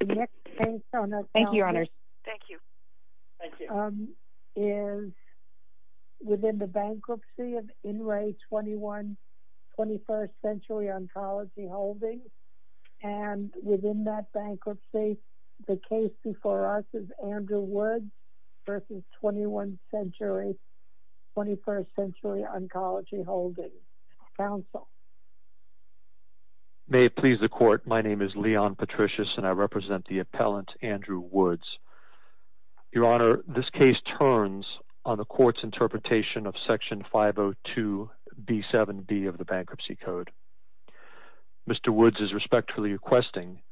The next case on our counsel is within the bankruptcy of In Re 21st Century Oncology Holdings and within that bankruptcy the case before us is Andrew Woods versus 21st Century Oncology Holdings counsel. May it please the court, my name is Leon Patricius and I represent the appellant Andrew Woods. Your Honor, this case turns on the court's interpretation of Section 502 B7b of the Bankruptcy Code. Mr. Woods is respectfully requesting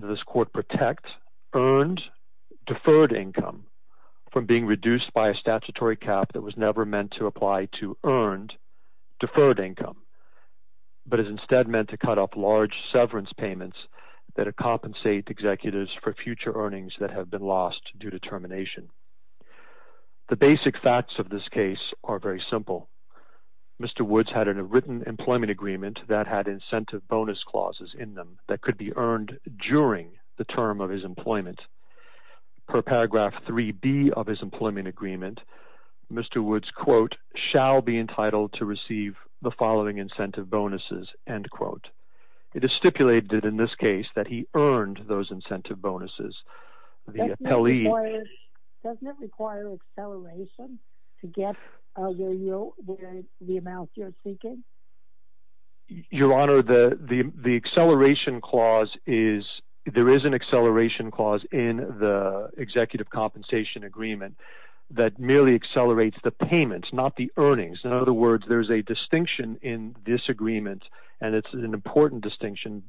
that this court protect earned deferred income from being reduced by a statutory cap that was never meant to apply to earned deferred income but is instead meant to cut off large severance payments that compensate executives for future earnings that have been lost due to termination. The basic facts of this case are very simple. Mr. Woods had a written employment agreement that had incentive bonus clauses in them that could be earned during the term of his employment. Per paragraph 3b of his employment agreement, Mr. Woods quote, shall be entitled to receive the following incentive bonuses, end quote. It is stipulated in this case that he earned those incentive bonuses. Doesn't it require acceleration to get the amount you're seeking? Your Honor, the incentive bonus is a distinction in the executive compensation agreement that merely accelerates the payments, not the earnings. In other words, there's a distinction in this agreement and it's an important distinction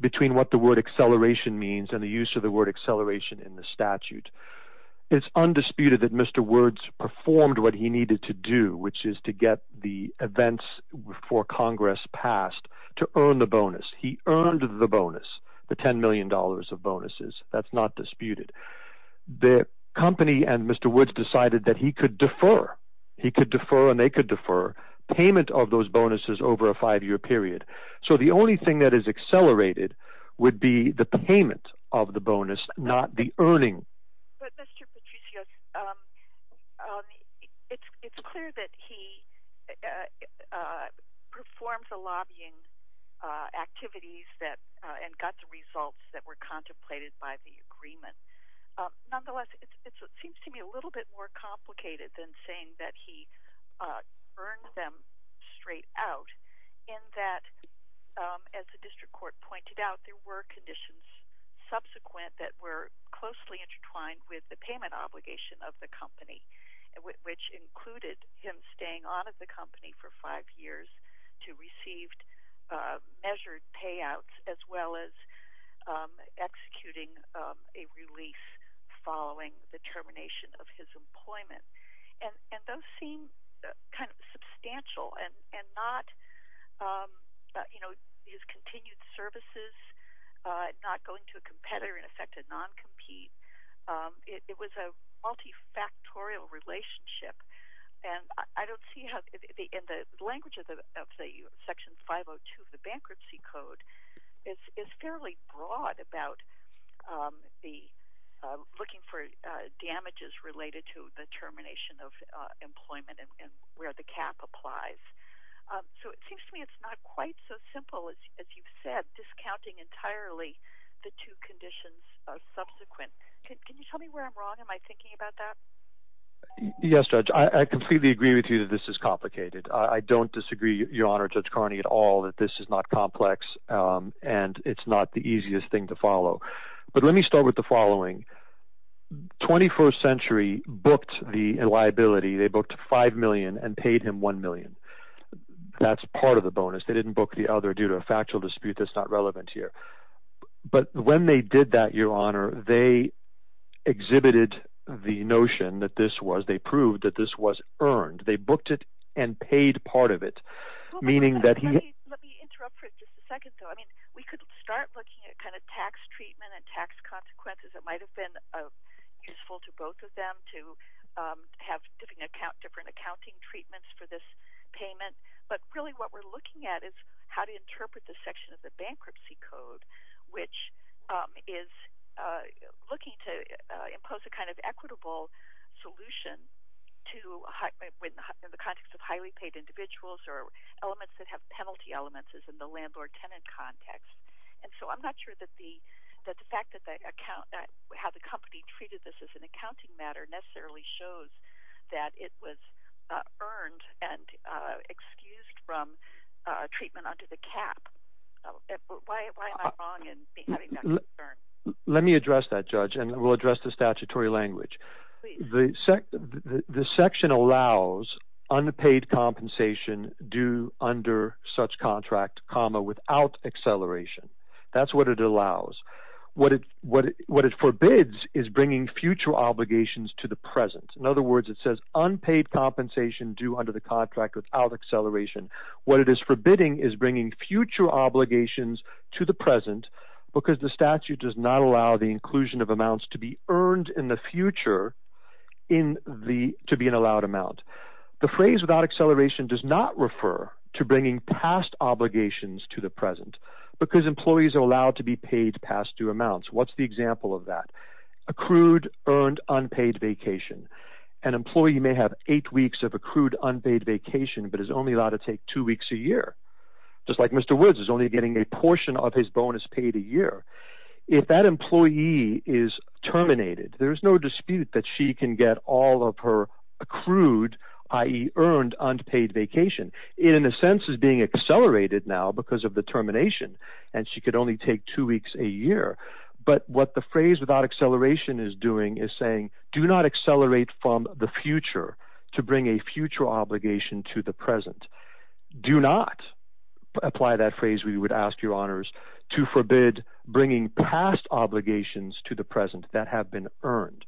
between what the word acceleration means and the use of the word acceleration in the statute. It's undisputed that Mr. Woods performed what he needed to do, which is to get the events before Congress passed to earn the bonus. He earned the bonus, the ten million dollars of bonuses. That's not disputed. The company and Mr. Woods decided that he could defer. He could defer and they could defer payment of those bonuses over a five-year period. So the only thing that is accelerated would be the payment of the bonus, not the earning. But Mr. Patricios, it's clear that he performed the lobbying activities that and got the results that were contemplated by the agreement. Nonetheless, it seems to me a little bit more complicated than saying that he earned them straight out in that, as the district court pointed out, there were conditions subsequent that were closely intertwined with the payment obligation of the company, which included him staying on at the company for five years to receive measured payouts, as well as executing a release following the termination of his employment. And those seem kind of substantial and not, you know, his continued services, not going to a competitor, in effect a non-compete. It was a multifactorial relationship and I don't see how, in the language of Section 502 of the Bankruptcy Code, it's fairly broad about the looking for damages related to the termination of employment and where the cap applies. So it seems to me it's not quite so simple as you've said, discounting entirely the two conditions subsequent. Can you tell me where I'm wrong? Am I thinking about that? Yes, Judge. I completely agree with you that this is complicated. I don't disagree, Your Honor, Judge Carney, at all that this is not complex and it's not the easiest thing to follow. But let me start with the following. 21st Century booked the liability. They booked five million and paid him one million. That's part of the bonus. They didn't book the other due to a factual dispute that's not relevant here. But when they did that, Your Honor, they exhibited the notion that this was, they proved that this was earned. They booked it and paid part of it, meaning that he... Let me interrupt for just a second, though. I mean, we could start looking at kind of tax treatment and tax consequences. It might have been useful to both of them to have different accounting treatments for this payment. But really what we're looking at is how to interpret the section of the Bankruptcy Code, which is looking to impose a kind of equitable solution to, in the context of penalties or elements that have penalty elements in the landlord-tenant context. And so I'm not sure that the fact that the company treated this as an accounting matter necessarily shows that it was earned and excused from treatment under the cap. Why am I wrong in having that concern? Let me address that, Judge, and we'll address the statutory language. The section allows unpaid compensation due under such contract, comma, without acceleration. That's what it allows. What it forbids is bringing future obligations to the present. In other words, it says unpaid compensation due under the contract without acceleration. What it is forbidding is bringing future obligations to the present because the statute does not contain the to be an allowed amount. The phrase without acceleration does not refer to bringing past obligations to the present because employees are allowed to be paid past due amounts. What's the example of that? Accrued, earned, unpaid vacation. An employee may have eight weeks of accrued, unpaid vacation but is only allowed to take two weeks a year. Just like Mr. Woods is only getting a portion of his bonus paid a year. If that employee is terminated, there is no dispute that she can get all of her accrued, i.e. earned, unpaid vacation. It, in a sense, is being accelerated now because of the termination and she could only take two weeks a year. But what the phrase without acceleration is doing is saying do not accelerate from the future to bring a future obligation to the present. Do not apply that phrase, we would ask your honors, to forbid bringing past obligations to the present that have been earned.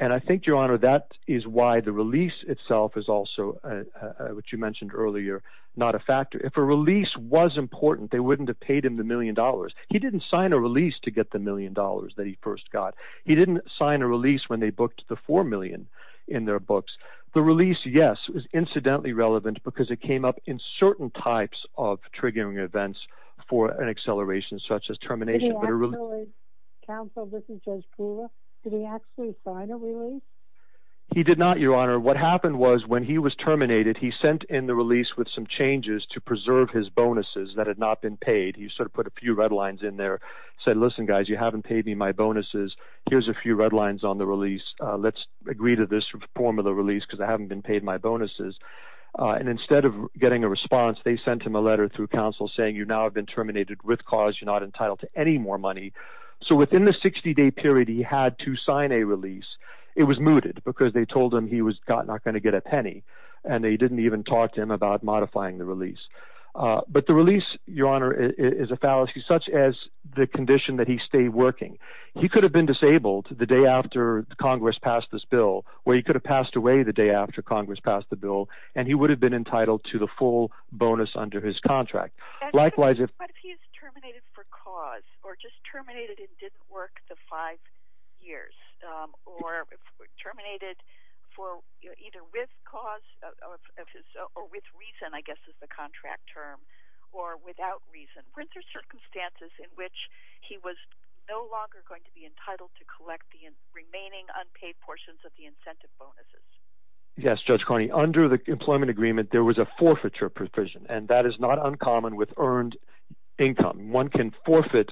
And I think, your honor, that is why the release itself is also, which you mentioned earlier, not a factor. If a release was important, they wouldn't have paid him the million dollars. He didn't sign a release to get the million dollars that he first got. He didn't sign a release when they booked the four million in their books. The release, yes, was incidentally relevant because it came up in certain types of triggering events for an acceleration such as school. Did he actually sign a release? He did not, your honor. What happened was when he was terminated, he sent in the release with some changes to preserve his bonuses that had not been paid. He sort of put a few red lines in there, said, listen guys, you haven't paid me my bonuses. Here's a few red lines on the release. Let's agree to this form of the release because I haven't been paid my bonuses. And instead of getting a response, they sent him a letter through counsel saying you now have been terminated with cause. You're not entitled to any more money. So within the 60-day period he had to sign a release, it was mooted because they told him he was not going to get a penny. And they didn't even talk to him about modifying the release. But the release, your honor, is a fallacy such as the condition that he stayed working. He could have been disabled the day after Congress passed this bill, or he could have passed away the day after Congress passed the bill, and he would have been entitled to the full bonus under his work the five years, or terminated for either with cause, or with reason I guess is the contract term, or without reason. Weren't there circumstances in which he was no longer going to be entitled to collect the remaining unpaid portions of the incentive bonuses? Yes, Judge Carney, under the employment agreement there was a forfeiture provision, and that is not uncommon with earned income. One can forfeit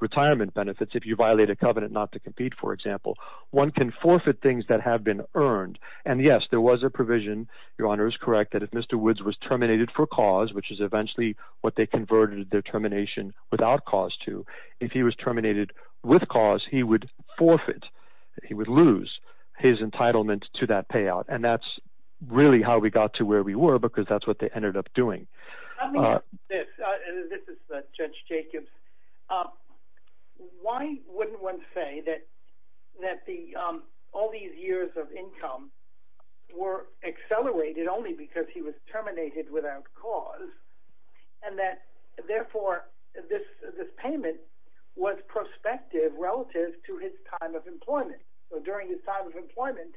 retirement benefits if you violate a covenant not to compete, for example. One can forfeit things that have been earned. And yes, there was a provision, your honor is correct, that if Mr. Woods was terminated for cause, which is eventually what they converted their termination without cause to, if he was terminated with cause, he would forfeit, he would lose his entitlement to that payout. And that's really how we got to where we were because that's what they Why wouldn't one say that all these years of income were accelerated only because he was terminated without cause, and that therefore this payment was prospective relative to his time of employment. So during his time of employment,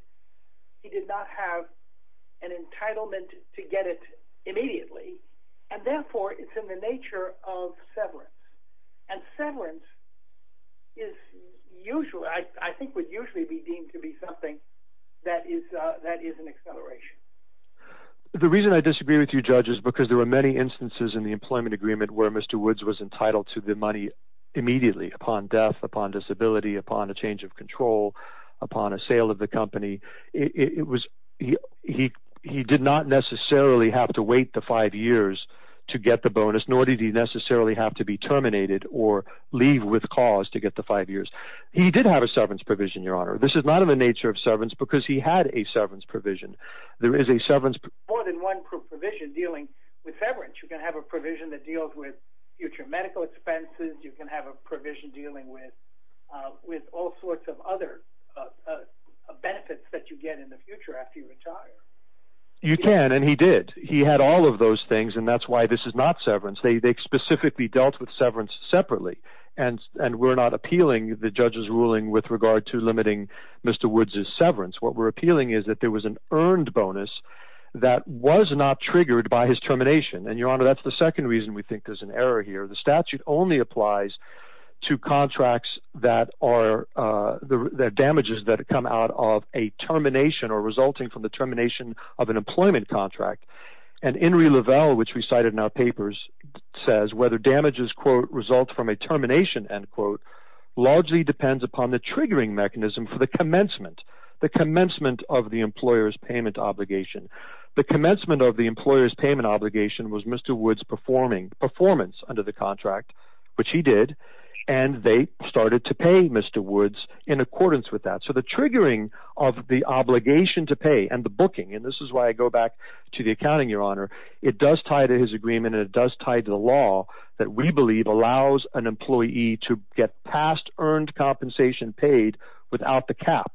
he did not have an entitlement to get it immediately, and settlement is usually, I think, would usually be deemed to be something that is an acceleration. The reason I disagree with you, Judge, is because there were many instances in the employment agreement where Mr. Woods was entitled to the money immediately, upon death, upon disability, upon a change of control, upon a sale of the company. It was, he did not necessarily have to wait the five years to get the bonus, nor did he necessarily have to be terminated or leave with cause to get the five years. He did have a severance provision, Your Honor. This is not in the nature of severance because he had a severance provision. There is a severance... More than one provision dealing with severance. You can have a provision that deals with future medical expenses, you can have a provision dealing with all sorts of other benefits that you get in the future after you retire. You can, and he did. He had all of those things, and that's why this is not severance. They specifically dealt with severance separately, and we're not appealing the judge's ruling with regard to limiting Mr. Woods's severance. What we're appealing is that there was an earned bonus that was not triggered by his termination, and, Your Honor, that's the second reason we think there's an error here. The statute only applies to contracts that are, the damages that come out of a termination or resulting from the termination of an employment contract, and Inrie Lavelle, which we cited in our papers, says whether damages, quote, result from a termination, end quote, largely depends upon the triggering mechanism for the commencement, the commencement of the employer's payment obligation. The commencement of the employer's payment obligation was Mr. Woods performing, performance under the contract, which he did, and they started to pay Mr. Woods in and the booking, and this is why I go back to the accounting, Your Honor. It does tie to his agreement, and it does tie to the law that we believe allows an employee to get past earned compensation paid without the cap.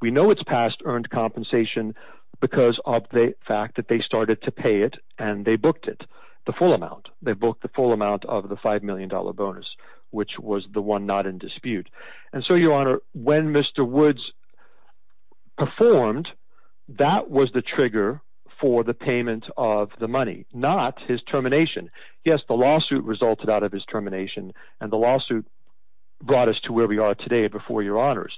We know it's past earned compensation because of the fact that they started to pay it, and they booked it, the full amount. They booked the full amount of the five million dollar bonus, which was the one not in dispute, and so, Your Honor, when Mr. Woods performed, that was the trigger for the payment of the money, not his termination. Yes, the lawsuit resulted out of his termination, and the lawsuit brought us to where we are today before, Your Honors,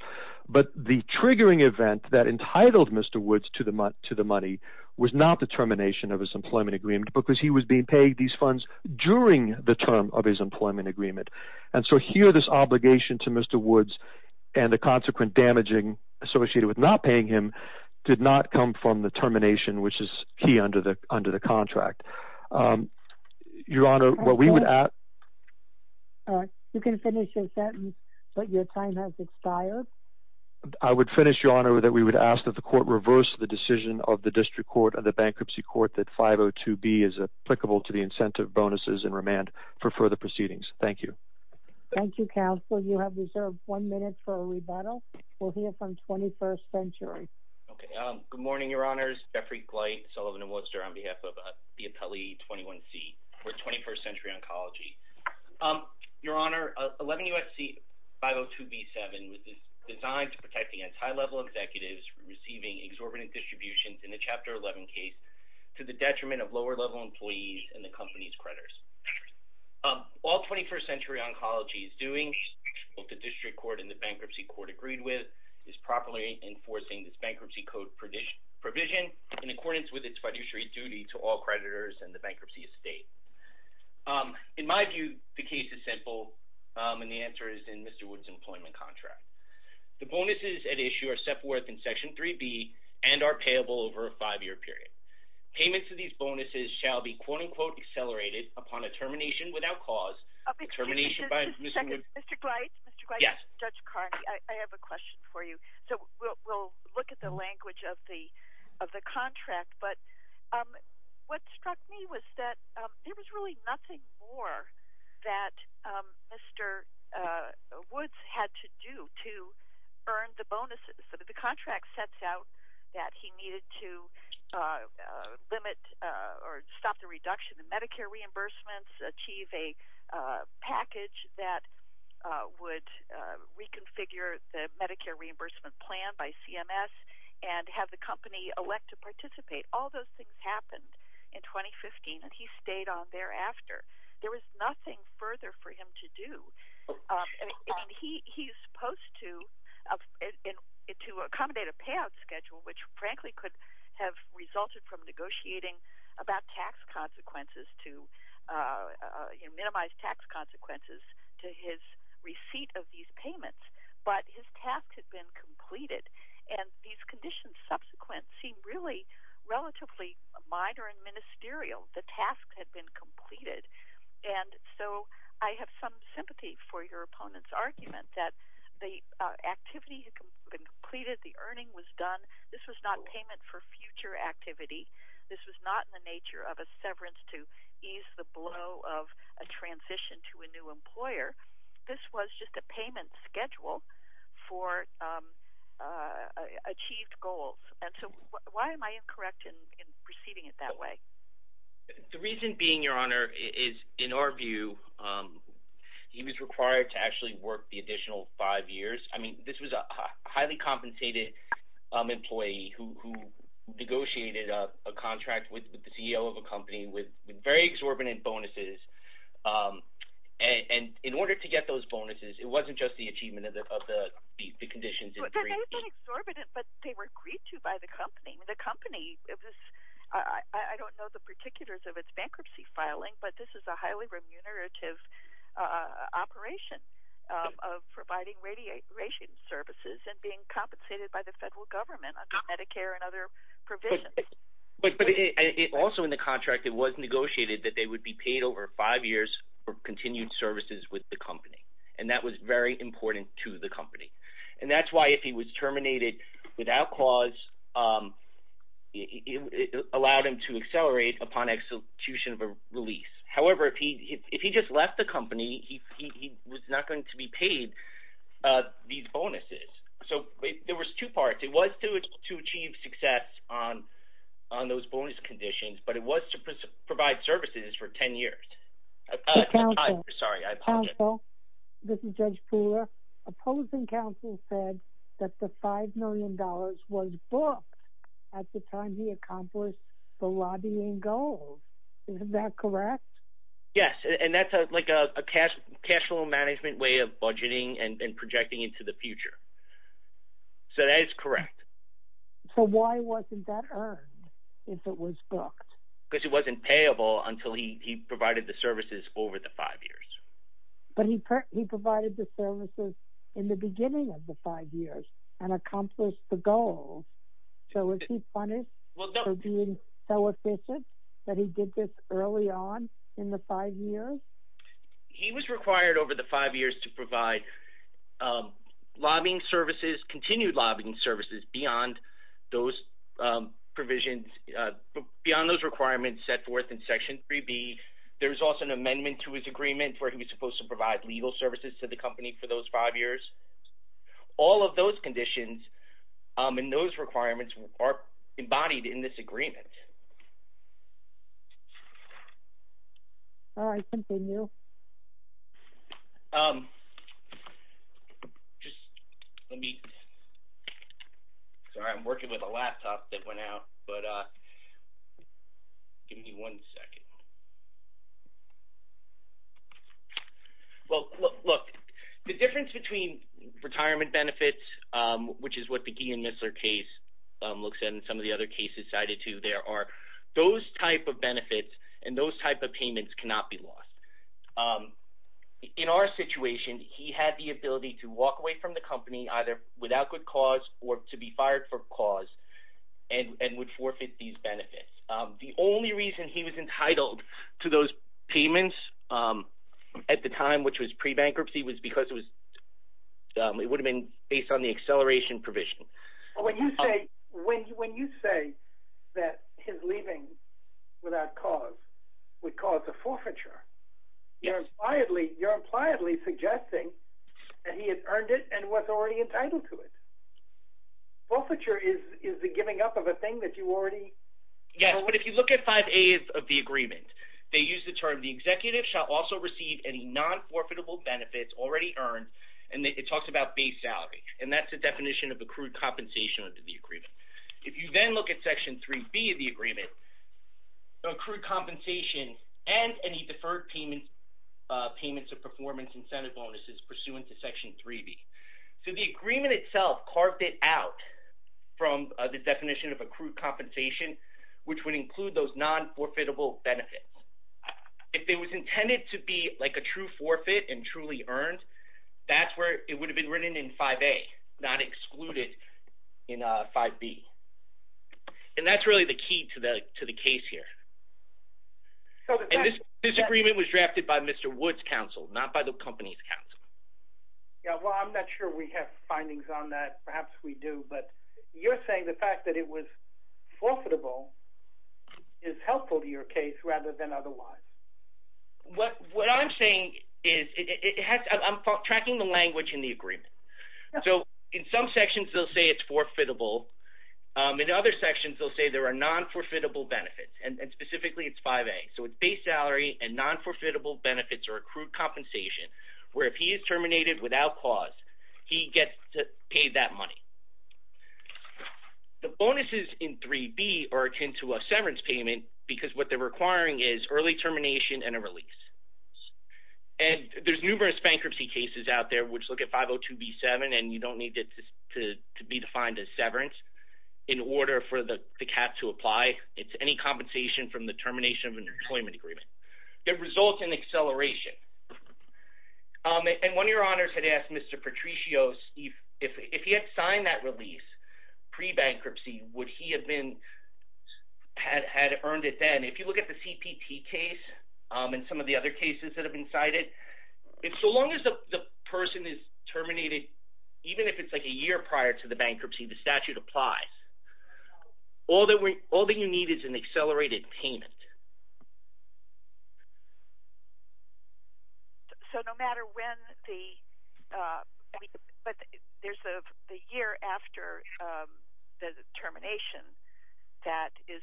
but the triggering event that entitled Mr. Woods to the money was not the termination of his employment agreement because he was being paid these funds during the term of his employment agreement, and so here, this obligation to Mr. Woods and the consequent damaging associated with not paying him did not come from the termination, which is key under the contract. Your Honor, what we would ask... You can finish your sentence, but your time has expired. I would finish, Your Honor, that we would ask that the court reverse the decision of the District Court of the Bankruptcy Court that 502B is applicable to the incentive bonuses and remand for further proceedings. Thank you. Thank you, counsel. You have one minute for a rebuttal. We'll hear from 21st Century. Okay, good morning, Your Honors. Jeffrey Gleit, Sullivan & Wooster on behalf of the Appellee 21C for 21st Century Oncology. Your Honor, 11UFC 502B-7 was designed to protect against high-level executives receiving exorbitant distributions in the Chapter 11 case to the detriment of lower-level employees and the company's creditors. All 21st Century Oncology is doing, both the District Court and the Bankruptcy Court agreed with, is properly enforcing this bankruptcy code provision in accordance with its fiduciary duty to all creditors and the bankruptcy estate. In my view, the case is simple and the answer is in Mr. Woods' employment contract. The bonuses at issue are set forth in Section 3B and are payable over a five-year period. Payments of these bonuses shall be quote-unquote accelerated upon a termination without cause. Mr. Gleit, Judge Carney, I have a question for you. So we'll look at the language of the of the contract, but what struck me was that there was really nothing more that Mr. Woods had to do to earn the bonuses. The contract sets out that he needed to limit or stop the reduction in Medicare reimbursements, achieve a package that would reconfigure the Medicare reimbursement plan by CMS, and have the company elect to participate. All those things happened in 2015 and he stayed on thereafter. There was nothing further for him to do. He's supposed to accommodate a payout schedule, which frankly could have resulted from negotiating about tax consequences to minimize tax consequences to his receipt of these payments, but his task had been completed and these conditions subsequent seem really relatively minor and ministerial. The task had been completed and so I have some sympathy for your opponent's argument that the activity had been completed, the earning was done. This was not payment for future activity. This was not in the nature of a severance to ease the blow of a transition to a new employer. This was just a payment schedule for achieved goals. And so why am I incorrect in perceiving it that way? The reason being, Your Honor, is in our view he was required to actually work the additional five years. I mean this was a highly compensated employee who negotiated a contract with the CEO of a company with very exorbitant bonuses and in order to get those bonuses it wasn't just the achievement of the conditions. They were agreed to by the company. The company, I don't know the particulars of its bankruptcy filing, but this is a remunerative operation of providing radiation services and being compensated by the federal government under Medicare and other provisions. But also in the contract it was negotiated that they would be paid over five years for continued services with the company and that was very important to the company. And that's why if he was terminated without cause, it allowed him to accelerate upon execution of a release. However, if he just left the company, he was not going to be paid these bonuses. So there was two parts. It was to achieve success on those bonus conditions, but it was to provide services for ten years. Counsel, this is Judge Pooler. Opposing counsel said that the lobbying goals, is that correct? Yes and that's like a cash flow management way of budgeting and projecting into the future. So that is correct. So why wasn't that earned if it was booked? Because it wasn't payable until he provided the services over the five years. But he provided the services in the beginning of the five years and accomplished the goal. So is he punished for being so efficient that he did this early on in the five years? He was required over the five years to provide lobbying services, continued lobbying services, beyond those provisions, beyond those requirements set forth in Section 3B. There was also an amendment to his agreement where he was to provide legal services to the company for those five years. All of those conditions and those requirements are embodied in this agreement. All right, continue. Just let me, sorry I'm working with a laptop that went out, but give me one second. Well, look, the difference between retirement benefits, which is what the Gein-Misler case looks at and some of the other cases cited too, there are those type of benefits and those type of payments cannot be lost. In our situation he had the ability to walk away from the company either without good cause or to be fired for cause and would forfeit these benefits. The only reason he was entitled to those payments at the time, which was pre-bankruptcy, was because it was, it would have been based on the acceleration provision. When you say that his leaving without cause would cause a forfeiture, you're impliedly suggesting that he had earned it and was already entitled to it. Forfeiture is the giving up of a thing that you already... Yes, but if you look at 5As of the agreement, they use the term the executive shall also receive any non- forfeitable benefits already earned, and it talks about base salary, and that's a definition of accrued compensation under the agreement. If you then look at Section 3B of the agreement, accrued compensation and any deferred payment, payments of performance incentive bonuses pursuant to Section 3B. So the agreement itself carved it out from the definition of accrued compensation, which would include those non-forfeitable benefits. If it was intended to be like a true forfeit and truly earned, that's where it would have been written in 5A, not excluded in 5B. And that's really the key to the case here. This agreement was drafted by Mr. Wood's counsel, not by the company's counsel. Yeah, well I'm not sure we have findings on that. Perhaps we do, but you're saying the fact that it was forfeitable is helpful to your case rather than otherwise. What I'm saying is, I'm tracking the language in the agreement. So in some sections they'll say it's forfeitable, in other sections they'll say there are non-forfeitable benefits, and specifically it's 5A. So it's base salary and non-forfeitable benefits or accrued compensation, where he is terminated without cause, he gets to pay that money. The bonuses in 3B are akin to a severance payment, because what they're requiring is early termination and a release. And there's numerous bankruptcy cases out there which look at 502b7 and you don't need it to be defined as severance in order for the cat to apply. It's any compensation from the termination of an employment agreement. It results in acceleration. And one of your honors had asked Mr. Patricios if he had signed that release pre-bankruptcy, would he have been, had earned it then. If you look at the CPT case and some of the other cases that have been cited, so long as the person is terminated, even if it's like a year prior to the bankruptcy, the statute applies. All that you need is an accelerated payment. So no matter when the, but there's a year after the termination that is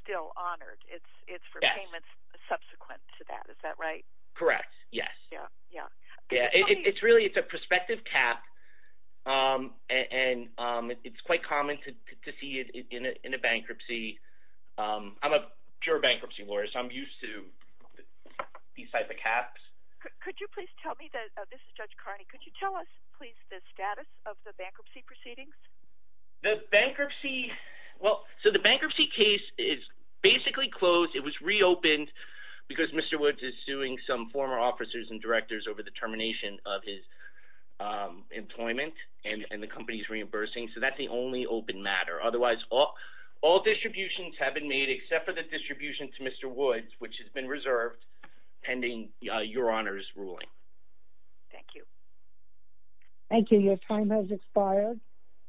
still honored, it's for payments subsequent to that, is that right? Correct, yes. Yeah, yeah. Yeah, it's really, it's a prospective cap and it's quite common to see it in a bankruptcy. I'm a pure bankruptcy lawyer so I'm used to these type of caps. Could you please tell me, this is Judge Carney, could you tell us please the status of the bankruptcy proceedings? The bankruptcy, well so the bankruptcy case is basically closed. It was reopened because Mr. Woods is suing some former officers and directors over the termination of his employment and the company's reimbursing, so that's the only open matter. Otherwise, all distributions have been made except for the distribution to Mr. Woods, which has been reserved pending Your Honor's ruling. Thank you. Thank you. Your time has expired.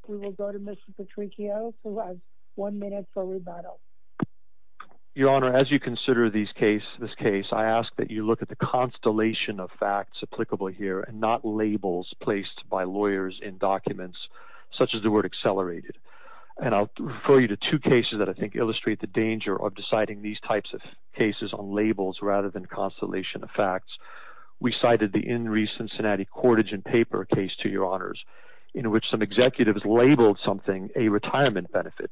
We will go to Mr. Petrichio who has one minute for rebuttal. Your Honor, as you consider these case, this case, I ask that you look at the constellation of facts applicable here and not labels placed by lawyers in such as the word accelerated. And I'll refer you to two cases that I think illustrate the danger of deciding these types of cases on labels rather than constellation of facts. We cited the in recent Cincinnati courtage and paper case to Your Honors in which some executives labeled something a retirement benefit,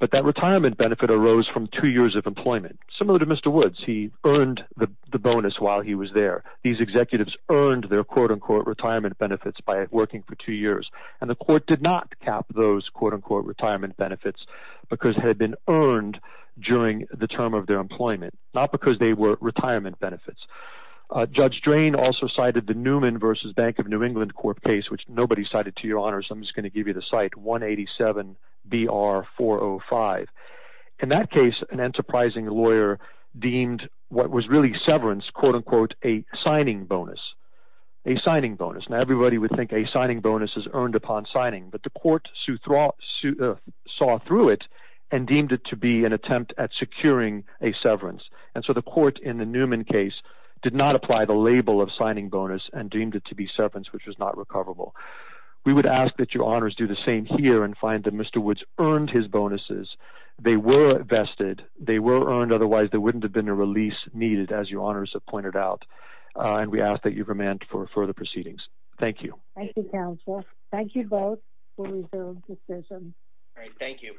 but that retirement benefit arose from two years of employment. Similar to Mr. Woods, he earned the bonus while he was there. These executives earned their quote-unquote retirement benefits by working for two years. And the court did not cap those quote-unquote retirement benefits because had been earned during the term of their employment, not because they were retirement benefits. Judge Drain also cited the Newman versus Bank of New England court case, which nobody cited to Your Honors. I'm just going to give you the site 187 BR 405. In that case, an enterprising lawyer deemed what was really severance quote-unquote a signing bonus. A signing bonus. Now everybody would think a signing bonus is earned upon signing, but the court saw through it and deemed it to be an attempt at securing a severance. And so the court in the Newman case did not apply the label of signing bonus and deemed it to be severance, which was not recoverable. We would ask that Your Honors do the same here and find that Mr. Woods earned his bonuses. They were vested. They were earned, otherwise there wouldn't have been a release needed, as Your Honors have pointed out. And we ask that you remand for further proceedings. Thank you. Thank you, counsel. Thank you both. We'll resume decision. All right. Thank you.